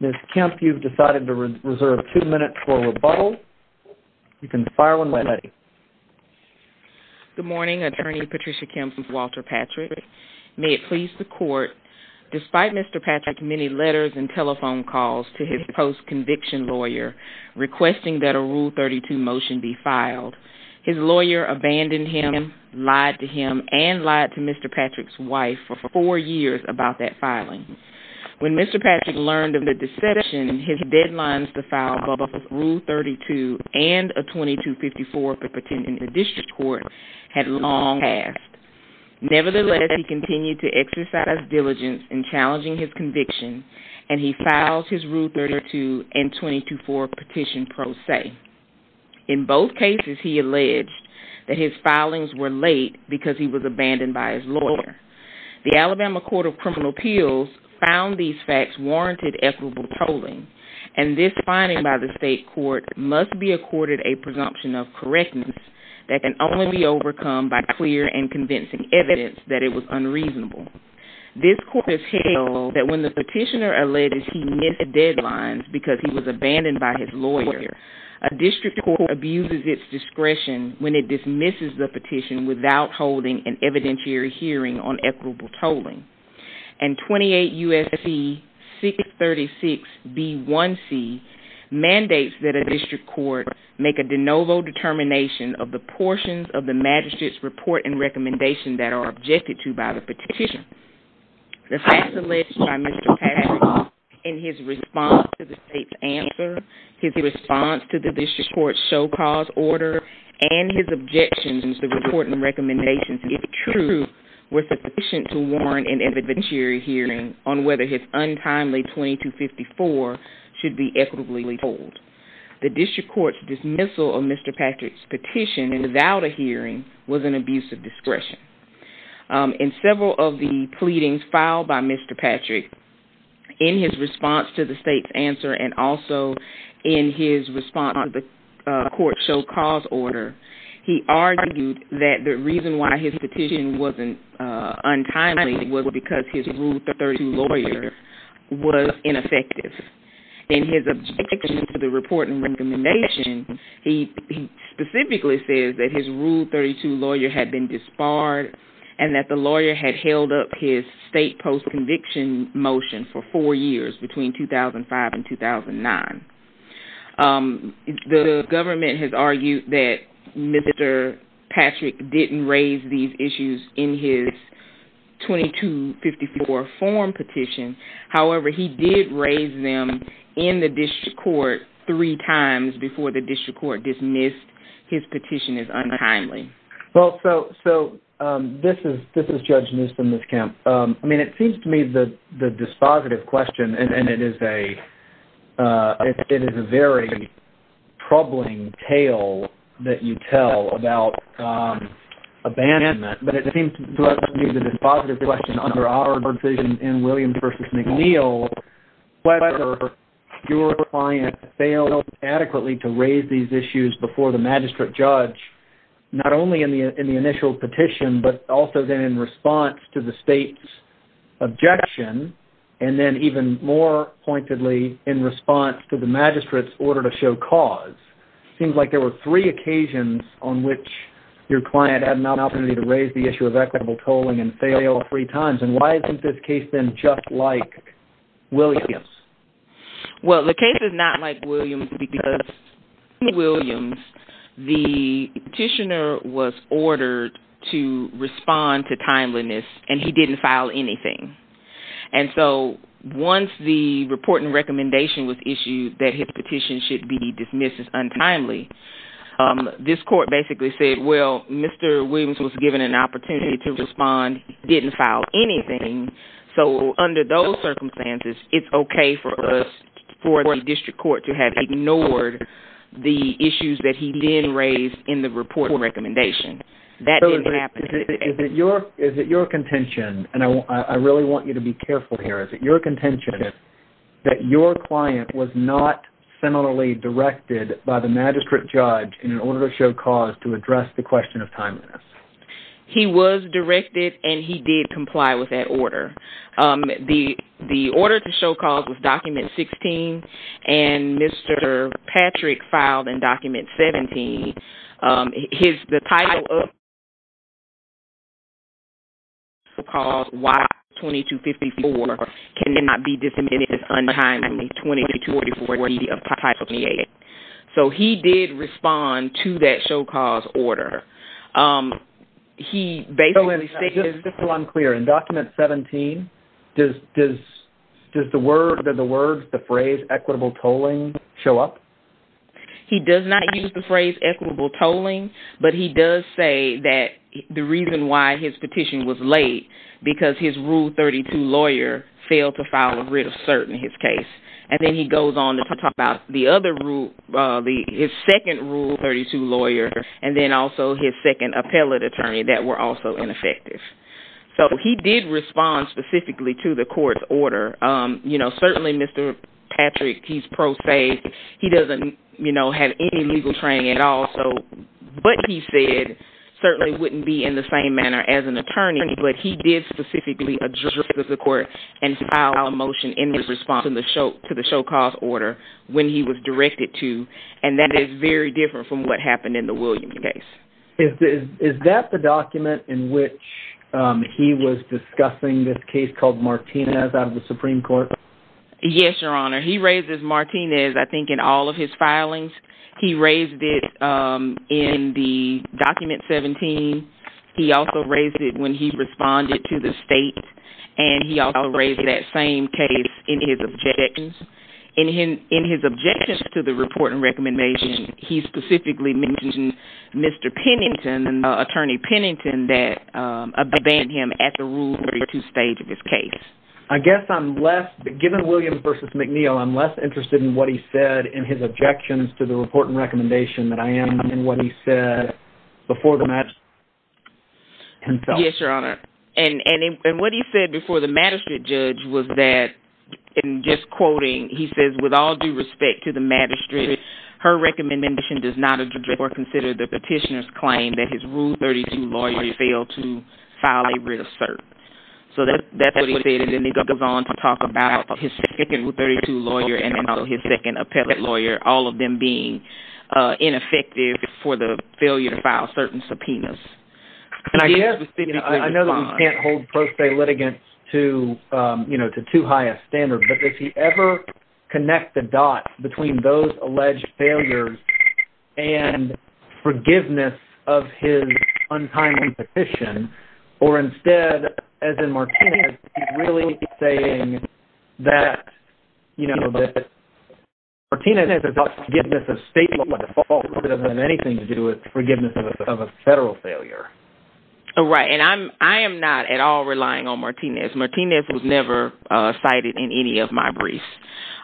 Ms. Kemp, you've decided to reserve 2 minutes for rebuttal, you can fire when ready. Good morning, Attorney Patricia Kemp with Walter Patrick. May it please the court, despite Mr. Patrick's many letters and telephone calls to his post-conviction lawyer requesting that a Rule 32 motion be filed, his lawyer abandoned him, lied to him, and lied to Mr. Patrick's wife for 4 years about that filing. When Mr. Patrick learned of the deception, his deadlines to file both a Rule 32 and a 2254 petition in the district court had long passed. Nevertheless, he continued to exercise diligence in challenging his conviction, and he files his Rule 32 and 224 petition pro se. In both cases, he alleged that his filings were late because he was abandoned by his lawyer. The Alabama Court of Criminal Appeals found these facts warranted equitable tolling, and this finding by the state court must be accorded a presumption of correctness that can only be overcome by clear and convincing evidence that it was unreasonable. This court has held that when the petitioner alleged he missed deadlines because he was abandoned by his lawyer, a district court abuses its discretion when it dismisses the petition without holding an evidentiary hearing on equitable tolling. And 28 U.S.C. 636b1c mandates that a district court make a de novo determination of the portions of the magistrate's report and recommendation that are objected to by the petition. The facts alleged by Mr. Patrick and his response to the state's answer, his response to the district court's show cause order, and his objections to the report and recommendations, if true, were sufficient to warrant an evidentiary hearing on whether his untimely 2254 should be equitably tolled. The district court's dismissal of Mr. Patrick's petition without a hearing was an abuse of discretion. In several of the pleadings filed by Mr. Patrick, in his response to the state's answer and also in his response to the court's show cause order, he argued that the reason why his petition wasn't untimely was because his Rule 32 lawyer was ineffective. In his objection to the report and recommendation, he specifically says that his Rule 32 lawyer had been disbarred and that the lawyer had held up his state post-conviction motion for four years, between 2005 and 2009. The government has argued that Mr. Patrick didn't raise these issues in his 2254 form petition. However, he did raise them in the district court three times before the district court dismissed his petition as untimely. Well, so this is Judge Neuston, Ms. Kemp. I mean, it seems to me the dispositive question, and it is a very troubling tale that you tell about abandonment, but it seems to me the dispositive question under our vision in Williams v. McNeil, whether your client failed adequately to raise these issues before the magistrate judge, not only in the initial petition, but also then in response to the state's objection, and then even more pointedly, in response to the magistrate's order to show cause. It seems like there were three occasions on which your client had an opportunity to raise the issue of equitable tolling and fail three times, and why isn't this case then just like Williams? Well, the case is not like Williams because in Williams, the petitioner was ordered to respond to timeliness, and he didn't file anything. And so once the report and recommendation was issued that his petition should be dismissed as untimely, this court basically said, well, Mr. Williams was given an opportunity to respond, didn't file anything, so under those circumstances, it's okay for the district court to have ignored the issues that he then raised in the report and recommendation. So is it your contention, and I really want you to be careful here, is it your contention that your client was not similarly directed by the magistrate judge in order to show cause to address the question of timeliness? He was directed, and he did comply with that order. The order to show cause was document 16, and Mr. Patrick filed in document 17. The title of the order was to show cause why 2254 cannot be dismissed as untimely, 2244 of Title 28. So he did respond to that show cause order. Just so I'm clear, in document 17, does the words, the phrase equitable tolling show up? He does not use the phrase equitable tolling, but he does say that the reason why his petition was late because his Rule 32 lawyer failed to file a writ of cert in his case. And then he goes on to talk about the other rule, his second Rule 32 lawyer, and then also his second appellate attorney that were also ineffective. So he did respond specifically to the court's order. Certainly, Mr. Patrick, he's pro se. He doesn't have any legal training at all, but he said certainly wouldn't be in the same manner as an attorney, but he did specifically address the court and file a motion in response to the show cause order when he was directed to, and that is very different from what happened in the Williams case. Is that the document in which he was discussing this case called Martinez out of the Supreme Court? Yes, Your Honor. He raises Martinez, I think, in all of his filings. He raised it in the document 17. He also raised it when he responded to the state, and he also raised that same case in his objections. In his objections to the report and recommendation, he specifically mentioned Mr. Pennington, attorney Pennington, that abandoned him at the Rule 32 stage of his case. I guess I'm less, given Williams v. McNeil, I'm less interested in what he said in his objections to the report and recommendation than I am in what he said before the magistrate himself. Yes, Your Honor. And what he said before the magistrate judge was that, in just quoting, he says, With all due respect to the magistrate, her recommendation does not address or consider the petitioner's claim that his Rule 32 lawyer failed to file a reassert. So that's what he said, and then he goes on to talk about his second Rule 32 lawyer and his second appellate lawyer, all of them being ineffective for the failure to file certain subpoenas. I know that we can't hold pro se litigants to too high a standard, but if you ever connect the dots between those alleged failures and forgiveness of his untimely petition, or instead, as in Martinez, he's really saying that, you know, that Martinez's forgiveness of state law default doesn't have anything to do with forgiveness of a federal failure. Right, and I am not at all relying on Martinez. Martinez was never cited in any of my briefs.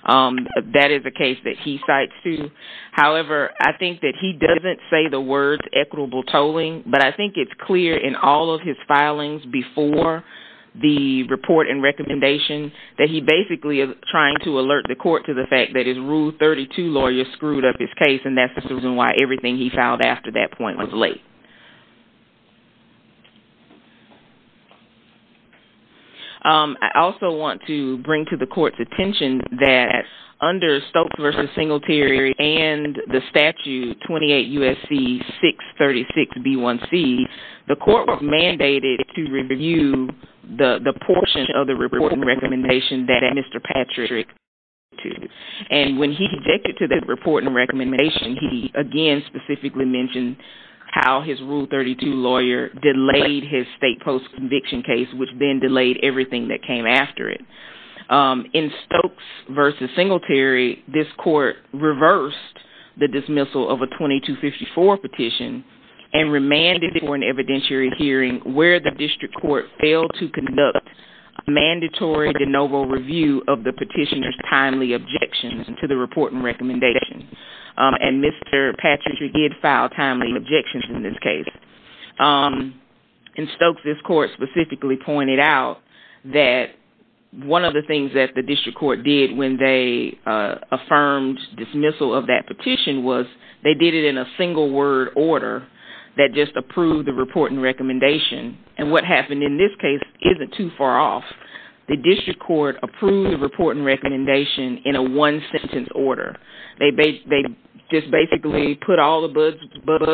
That is a case that he cites, too. However, I think that he doesn't say the words equitable tolling, but I think it's clear in all of his filings before the report and recommendation that he basically is trying to alert the court to the fact that his Rule 32 lawyer screwed up his case, and that's the reason why everything he filed after that point was late. I also want to bring to the court's attention that under Stokes v. Singletary and the statute 28 U.S.C. 636b1c, the court was mandated to review the portion of the report and recommendation that Mr. Patrick And when he objected to that report and recommendation, he, again, specifically mentioned how his Rule 32 lawyer delayed his state post-conviction case, which then delayed everything that came after it. In Stokes v. Singletary, this court reversed the dismissal of a 2254 petition and remanded for an evidentiary hearing where the district court failed to conduct a mandatory de novo review of the petitioner's timely objections to the report and recommendation. And Mr. Patrick did file timely objections in this case. In Stokes, this court specifically pointed out that one of the things that the district court did when they affirmed dismissal of that petition was they did it in a single word order that just approved the report and recommendation. And what happened in this case isn't too far off. The district court approved the report and recommendation in a one sentence order. They just basically put all the buzz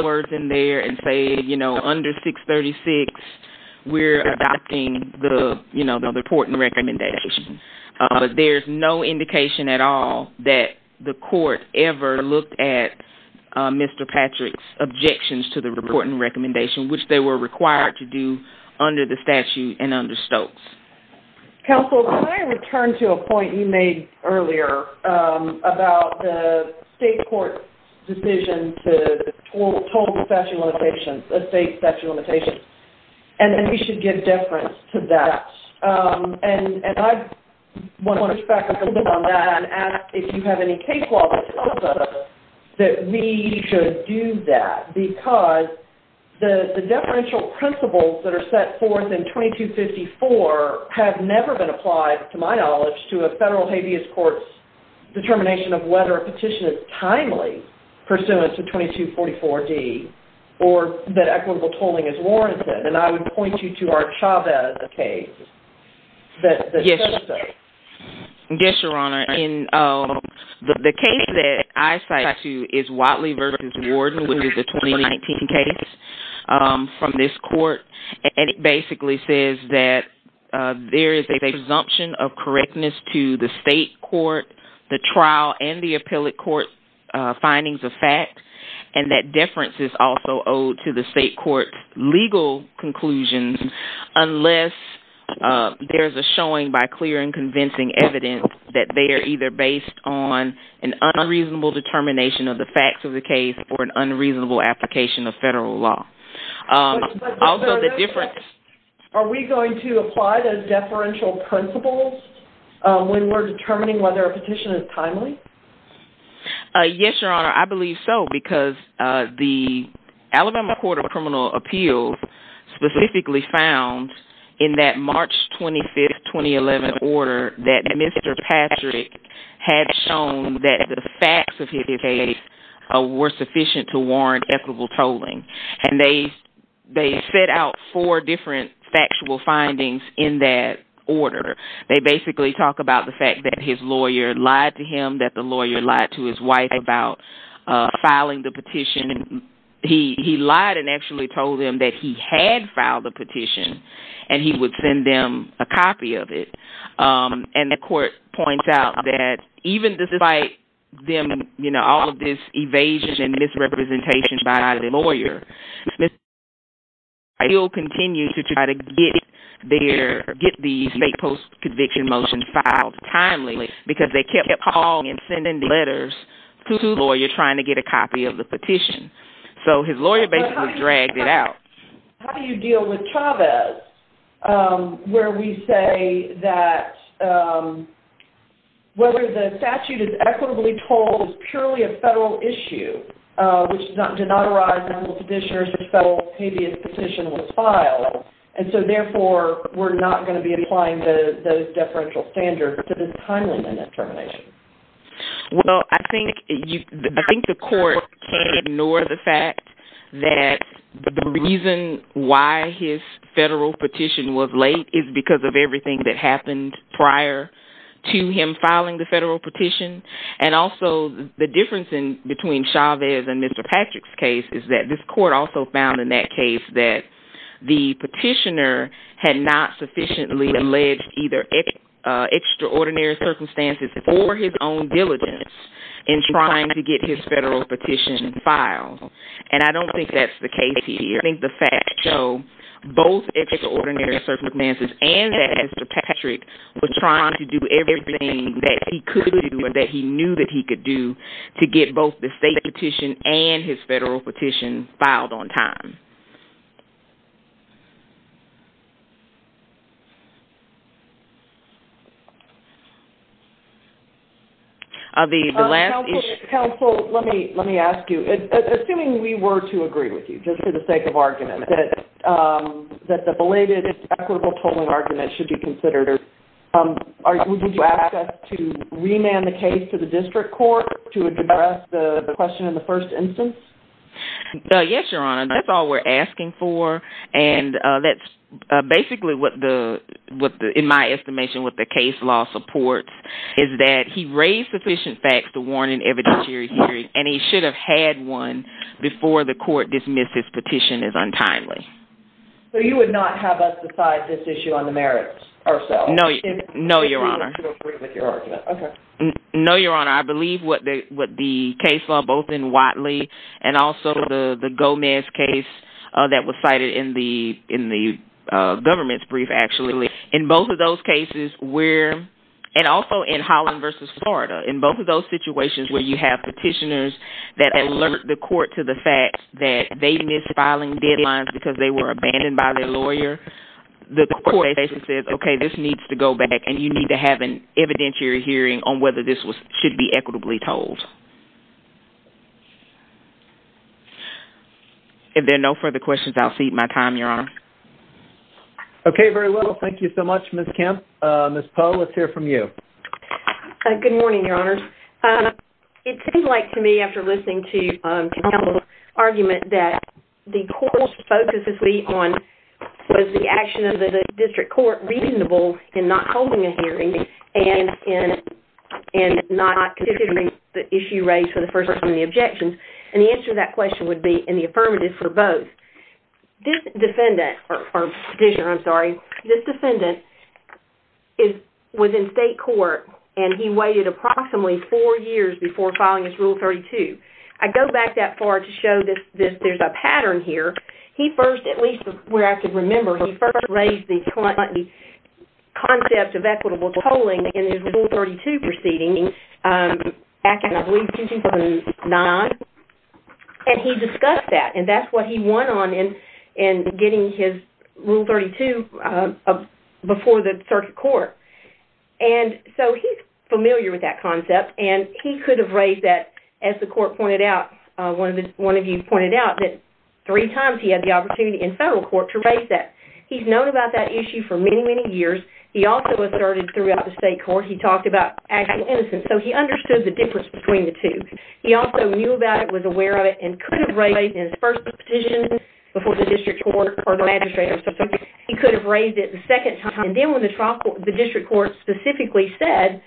words in there and said, you know, under 636, we're adopting the report and recommendation. But there's no indication at all that the court ever looked at Mr. Patrick's objections to the report and recommendation, which they were required to do under the statute and under Stokes. Counsel, can I return to a point you made earlier about the state court's decision to total statute limitations, a state statute limitation, and that we should give deference to that? And I want to reflect a little bit on that and ask if you have any case law that tells us that we should do that. Because the deferential principles that are set forth in 2254 have never been applied, to my knowledge, to a federal habeas court's determination of whether a petition is timely pursuant to 2244D or that equitable tolling is warranted. And I would point you to our Chavez case that says so. Yes, Your Honor. The case that I cite to is Watley v. Warden, which is a 2019 case from this court. And it basically says that there is a presumption of correctness to the state court, the trial, and the appellate court's findings of fact, and that deference is also owed to the state court's legal conclusions unless there is a showing by clear and convincing evidence that they are either based on an unreasonable determination of the facts of the case or an unreasonable application of federal law. Are we going to apply those deferential principles when we're determining whether a petition is timely? Yes, Your Honor. I believe so, because the Alabama Court of Criminal Appeals specifically found in that March 25, 2011 order that Mr. Patrick had shown that the facts of his case were sufficient to warrant equitable tolling and they set out four different factual findings in that order. They basically talk about the fact that his lawyer lied to him, that the lawyer lied to his wife about filing the petition. He lied and actually told them that he had filed a petition, and he would send them a copy of it. And the court points out that even despite all of this evasion and misrepresentation by the lawyer, Mr. Patrick still continued to try to get the state post-conviction motion filed timely, because they kept calling and sending letters to the lawyer trying to get a copy of the petition. So his lawyer basically dragged it out. How do you deal with Chavez, where we say that whether the statute is equitably tolled is purely a federal issue, which did not arise under the condition that a federal habeas petition was filed, and so therefore we're not going to be applying those deferential standards to this timeliness determination? Well, I think the court can ignore the fact that the reason why his federal petition was late is because of everything that happened prior to him filing the federal petition. And also the difference between Chavez and Mr. Patrick's case is that this court also found in that case that the petitioner had not sufficiently alleged either extraordinary circumstances or his own diligence in trying to get his federal petition filed. And I don't think that's the case here. I think the facts show both extraordinary circumstances and that Mr. Patrick was trying to do everything that he could do or that he knew that he could do to get both the state petition and his federal petition filed on time. Counsel, let me ask you. Assuming we were to agree with you, just for the sake of argument, that the belated equitable tolling argument should be considered, would you ask us to remand the case to the district court to address the question in the first instance? Yes, Your Honor. That's all we're asking for. And that's basically what, in my estimation, what the case law supports, is that he raised sufficient facts to warrant an evidentiary hearing, and he should have had one before the court dismissed his petition as untimely. So you would not have us decide this issue on the merits ourselves? No, Your Honor. Okay. No, Your Honor. I believe what the case law, both in Whatley and also the Gomez case that was cited in the government's brief, in both of those cases where, and also in Holland v. Florida, in both of those situations where you have petitioners that alert the court to the fact that they missed filing deadlines because they were abandoned by their lawyer, the court basically says, okay, this needs to go back and you need to have an evidentiary hearing on whether this should be equitably tolled. If there are no further questions, I'll cede my time, Your Honor. Okay, very well. Thank you so much, Ms. Kemp. Ms. Poe, let's hear from you. Good morning, Your Honors. It seems like to me, after listening to Campbell's argument, that the court's focus was the action of the district court reasonable in not holding a hearing and not considering the issue raised for the first person and the objections. And the answer to that question would be in the affirmative for both. This defendant, or petitioner, I'm sorry, this defendant was in state court and he waited approximately four years before filing his Rule 32. I go back that far to show that there's a pattern here. He first, at least where I can remember, he first raised the concept of equitable tolling in his Rule 32 proceeding back in, I believe, 2009. And he discussed that and that's what he won on in getting his Rule 32 before the circuit court. And so he's familiar with that concept and he could have raised that, as the court pointed out, one of you pointed out, that three times he had the opportunity in federal court to raise that. He's known about that issue for many, many years. He also asserted throughout the state court, he talked about actual innocence. So he understood the difference between the two. He also knew about it, was aware of it, and could have raised it in his first petition before the district court or the magistrate or something. He could have raised it the second time. And then when the district court specifically said,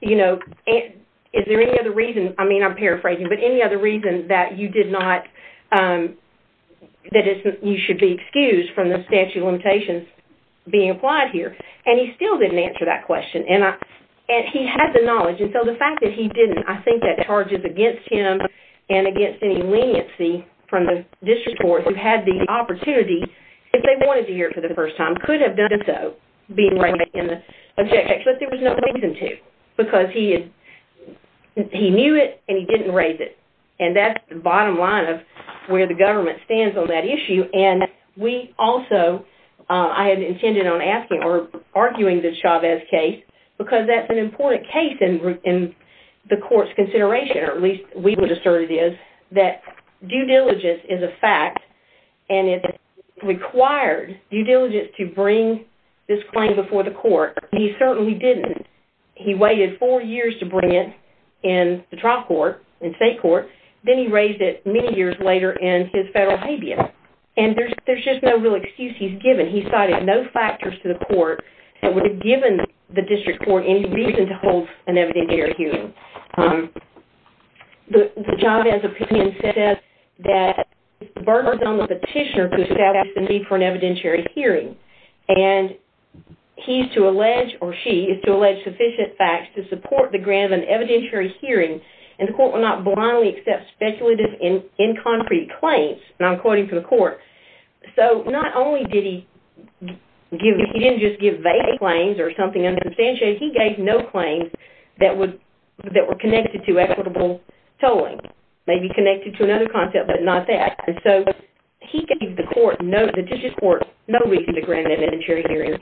you know, is there any other reason, I mean I'm paraphrasing, but any other reason that you did not, that you should be excused from the statute of limitations being applied here? And he still didn't answer that question. And he had the knowledge. And so the fact that he didn't, I think that charges against him and against any leniency from the district court who had the opportunity, if they wanted to hear it for the first time, could have done so being raised in the objection. But there was no reason to because he knew it and he didn't raise it. And that's the bottom line of where the government stands on that issue. And we also, I had intended on asking or arguing the Chavez case because that's an important case in the court's consideration, or at least we would assert it is, that due diligence is a fact and it required due diligence to bring this claim before the court. He certainly didn't. He waited four years to bring it in the trial court, in state court. Then he raised it many years later in his federal habeas. And there's just no real excuse he's given. He cited no factors to the court that would have given the district court any reason to hold an evidentiary hearing. The Chavez opinion says that Berger's on the petitioner to establish the need for an evidentiary hearing. And he's to allege, or she, is to allege sufficient facts to support the grant of an evidentiary hearing and the court will not blindly accept speculative, inconcrete claims, and I'm quoting from the court. So not only did he give, he didn't just give vague claims or something unsubstantiated, he gave no claims that were connected to equitable tolling. Maybe connected to another concept, but not that. And so he gave the court, the district court, no reason to grant an evidentiary hearing.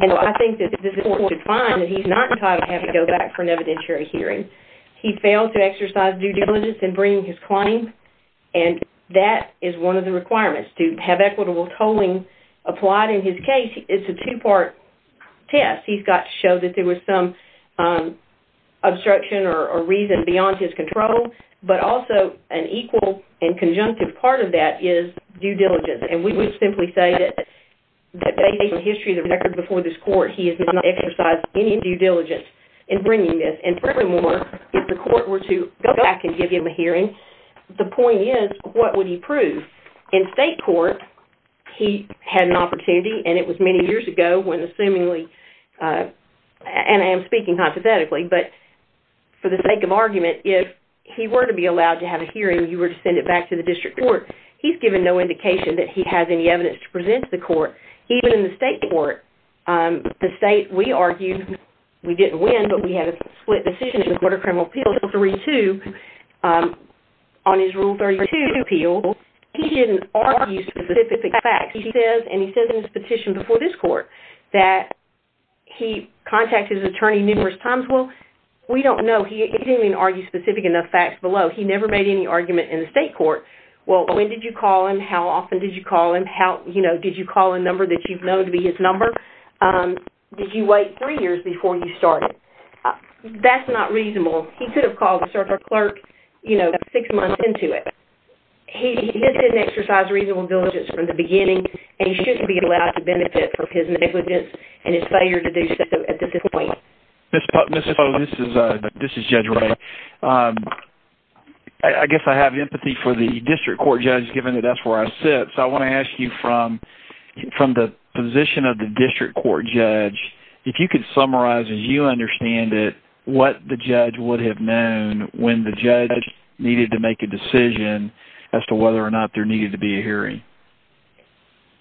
And I think that this court should find that he's not entitled to have to go back for an evidentiary hearing. He failed to exercise due diligence in bringing his claim. And that is one of the requirements, to have equitable tolling applied. In his case, it's a two-part test. He's got to show that there was some obstruction or reason beyond his control, but also an equal and conjunctive part of that is due diligence. And we would simply say that based on the history of the record before this court, he has not exercised any due diligence in bringing this. And furthermore, if the court were to go back and give him a hearing, the point is, what would he prove? In state court, he had an opportunity, and it was many years ago when, assumingly, and I am speaking hypothetically, but for the sake of argument, if he were to be allowed to have a hearing, you were to send it back to the district court. He's given no indication that he has any evidence to present to the court. Even in the state court, the state, we argued, we didn't win, but we had a split decision in the Court of Criminal Appeals on his Rule 32 appeal. He didn't argue specific facts. He says in his petition before this court that he contacted his attorney numerous times. Well, we don't know. He didn't even argue specific enough facts below. He never made any argument in the state court. Well, when did you call him? How often did you call him? Did you call a number that you've known to be his number? Did you wait three years before you started? That's not reasonable. He could have called a clerk six months into it. He didn't exercise reasonable diligence from the beginning, and he shouldn't be allowed to benefit from his negligence and his failure to do so at this point. This is Judge Ray. I guess I have empathy for the district court judge, given that that's where I sit, so I want to ask you, from the position of the district court judge, if you could summarize, as you understand it, what the judge would have known when the judge needed to make a decision as to whether or not there needed to be a hearing.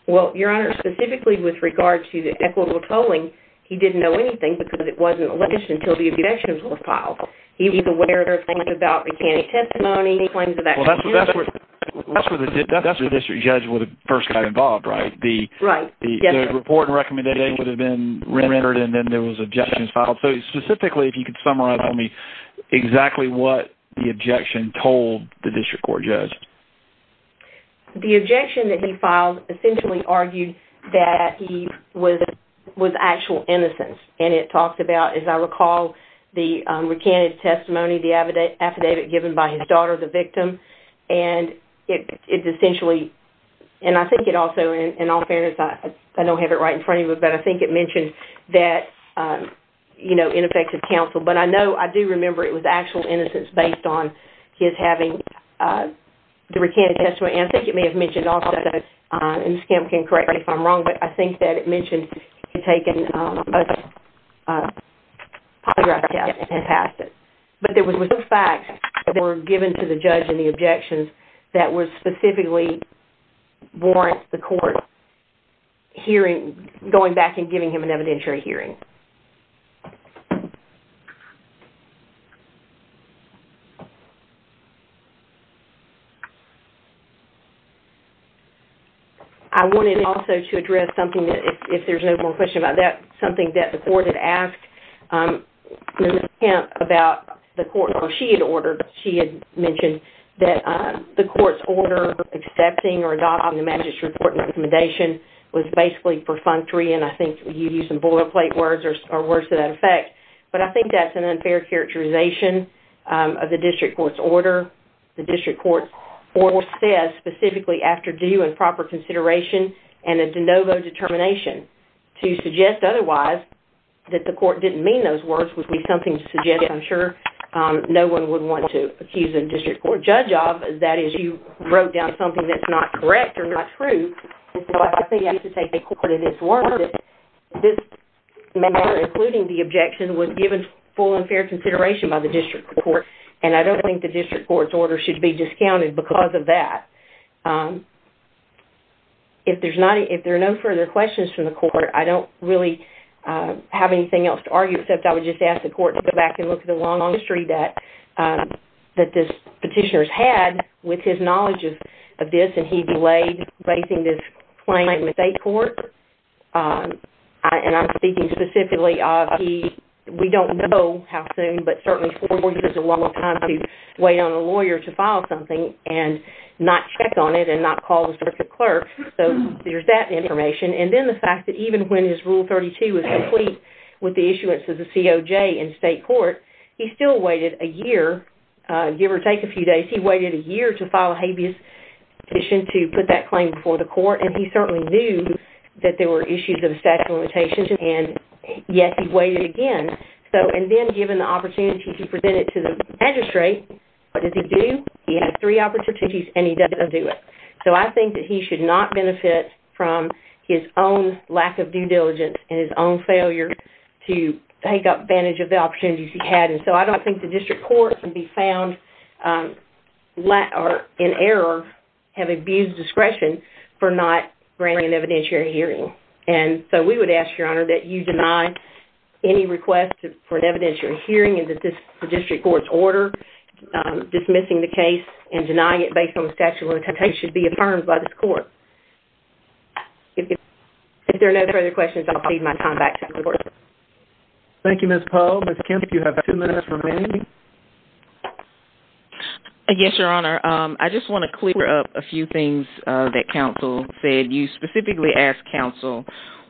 Well, Your Honor, specifically with regard to the equitable tolling, he didn't know anything because it wasn't released until the abduction was filed. He's aware there are things about mechanic testimony, claims of actual abuse. That's where the district judge would have first got involved, right? The report and recommendation would have been rendered, and then there was objections filed. So, specifically, if you could summarize for me exactly what the objection told the district court judge. The objection that he filed essentially argued that he was of actual innocence, and it talked about, as I recall, the recanted testimony, the affidavit given by his daughter, the victim, and it essentially, and I think it also, in all fairness, I don't have it right in front of me, but I think it mentioned that, you know, ineffective counsel. But I know, I do remember it was actual innocence based on his having the recanted testimony, and I think it may have mentioned also, and Ms. Kemp can correct me if I'm wrong, but I think that it mentioned he had taken a polygraph test and passed it. But there was no facts that were given to the judge in the objections that would specifically warrant the court hearing, going back and giving him an evidentiary hearing. I wanted also to address something that, if there's no more questions about that, something that the court had asked Ms. Kemp about the court, or she had ordered, she had mentioned that the court's order accepting or adopting the magistrate court recommendation was basically perfunctory, and I think you used some boilerplate words or words to that effect, but I think that's an unfair characterization of the district court's order. The district court's order says, specifically, after due and proper consideration and a de novo determination to suggest otherwise, that the court didn't mean those words, would be something to suggest I'm sure no one would want to accuse a district court judge of, that is, you wrote down something that's not correct or not true. So I think you have to take the court at its word that this measure, including the objection, was given full and fair consideration by the district court, and I don't think the district court's order should be discounted because of that. If there are no further questions from the court, I don't really have anything else to argue, except I would just ask the court to go back and look at the long history that this petitioner's had with his knowledge of this, and he delayed raising this claim in the state court, and I'm speaking specifically of he, we don't know how soon, but certainly four years is a long, long time to wait on a lawyer to file something and not check on it and not call the district clerk, so there's that information. And then the fact that even when his Rule 32 was complete with the issuance of the COJ in state court, he still waited a year, give or take a few days, he waited a year to file a habeas petition to put that claim before the court, and he certainly knew that there were issues of statute of limitations, and yet he waited again. And then given the opportunity to present it to the magistrate, what does he do? He has three opportunities, and he doesn't do it. So I think that he should not benefit from his own lack of due diligence and his own failure to take advantage of the opportunities he had, and so I don't think the district court can be found in error, have abused discretion for not granting an evidentiary hearing. And so we would ask, Your Honor, that you deny any request for an evidentiary hearing in the district court's order, dismissing the case and denying it based on the statute of limitations should be affirmed by this court. If there are no further questions, I'll cede my time back to the court. Thank you, Ms. Poe. Ms. Kemp, you have two minutes remaining. Yes, Your Honor. I just want to clear up a few things that counsel said. You specifically asked counsel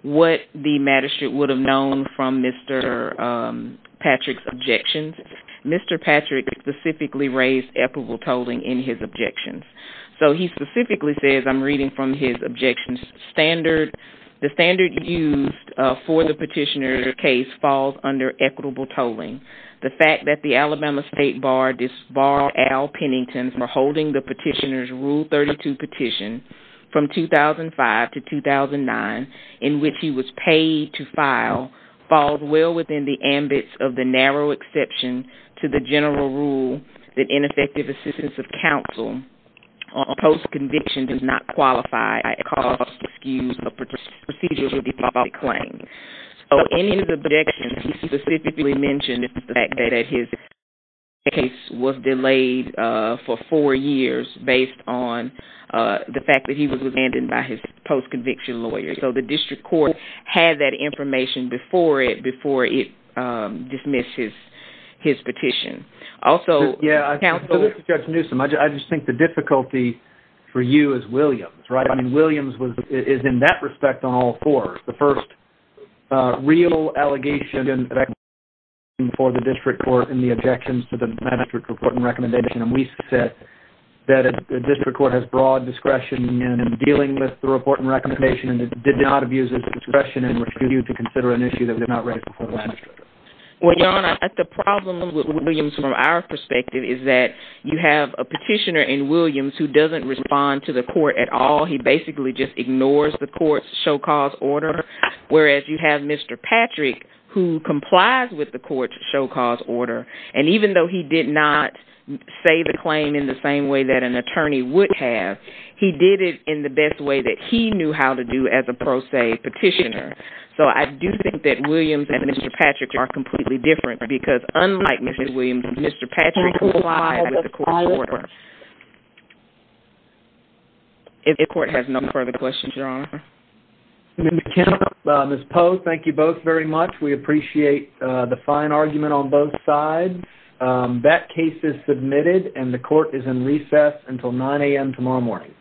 what the magistrate would have known from Mr. Patrick's objections. Mr. Patrick specifically raised equitable tolling in his objections. So he specifically says, I'm reading from his objections, the standard used for the petitioner case falls under equitable tolling. The fact that the Alabama State Bar disbarred Al Pennington for holding the petitioner's Rule 32 petition from 2005 to 2009 in which he was paid to file falls well within the ambit of the narrow exception to the general rule that ineffective assistance of counsel on post-conviction does not qualify as a cause, excuse, or procedure to default a claim. So any of the objections he specifically mentioned is the fact that his case was delayed for four years based on the fact that he was abandoned by his post-conviction lawyer. So the district court had that information before it dismissed his petition. Also, counsel. Judge Newsom, I just think the difficulty for you is Williams, right? I mean, Williams is in that respect on all four. The first real allegation for the district court in the objections to the magistrate's report and recommendation, and we said that the district court has broad discretion in dealing with the report and recommendation and did not abuse his discretion and refused to consider an issue that was not raised before the magistrate. Well, Your Honor, the problem with Williams from our perspective is that you have a petitioner in Williams who doesn't respond to the court at all. He basically just ignores the court's show cause order, whereas you have Mr. Patrick who complies with the court's show cause order, and even though he did not say the claim in the same way that an attorney would have, he did it in the best way that he knew how to do as a pro se petitioner. So I do think that Williams and Mr. Patrick are completely different because unlike Mr. Williams, Mr. Patrick complies with the court's order. If the court has no further questions, Your Honor. Ms. Poe, thank you both very much. We appreciate the fine argument on both sides. That case is submitted and the court is in recess until 9 a.m. tomorrow morning.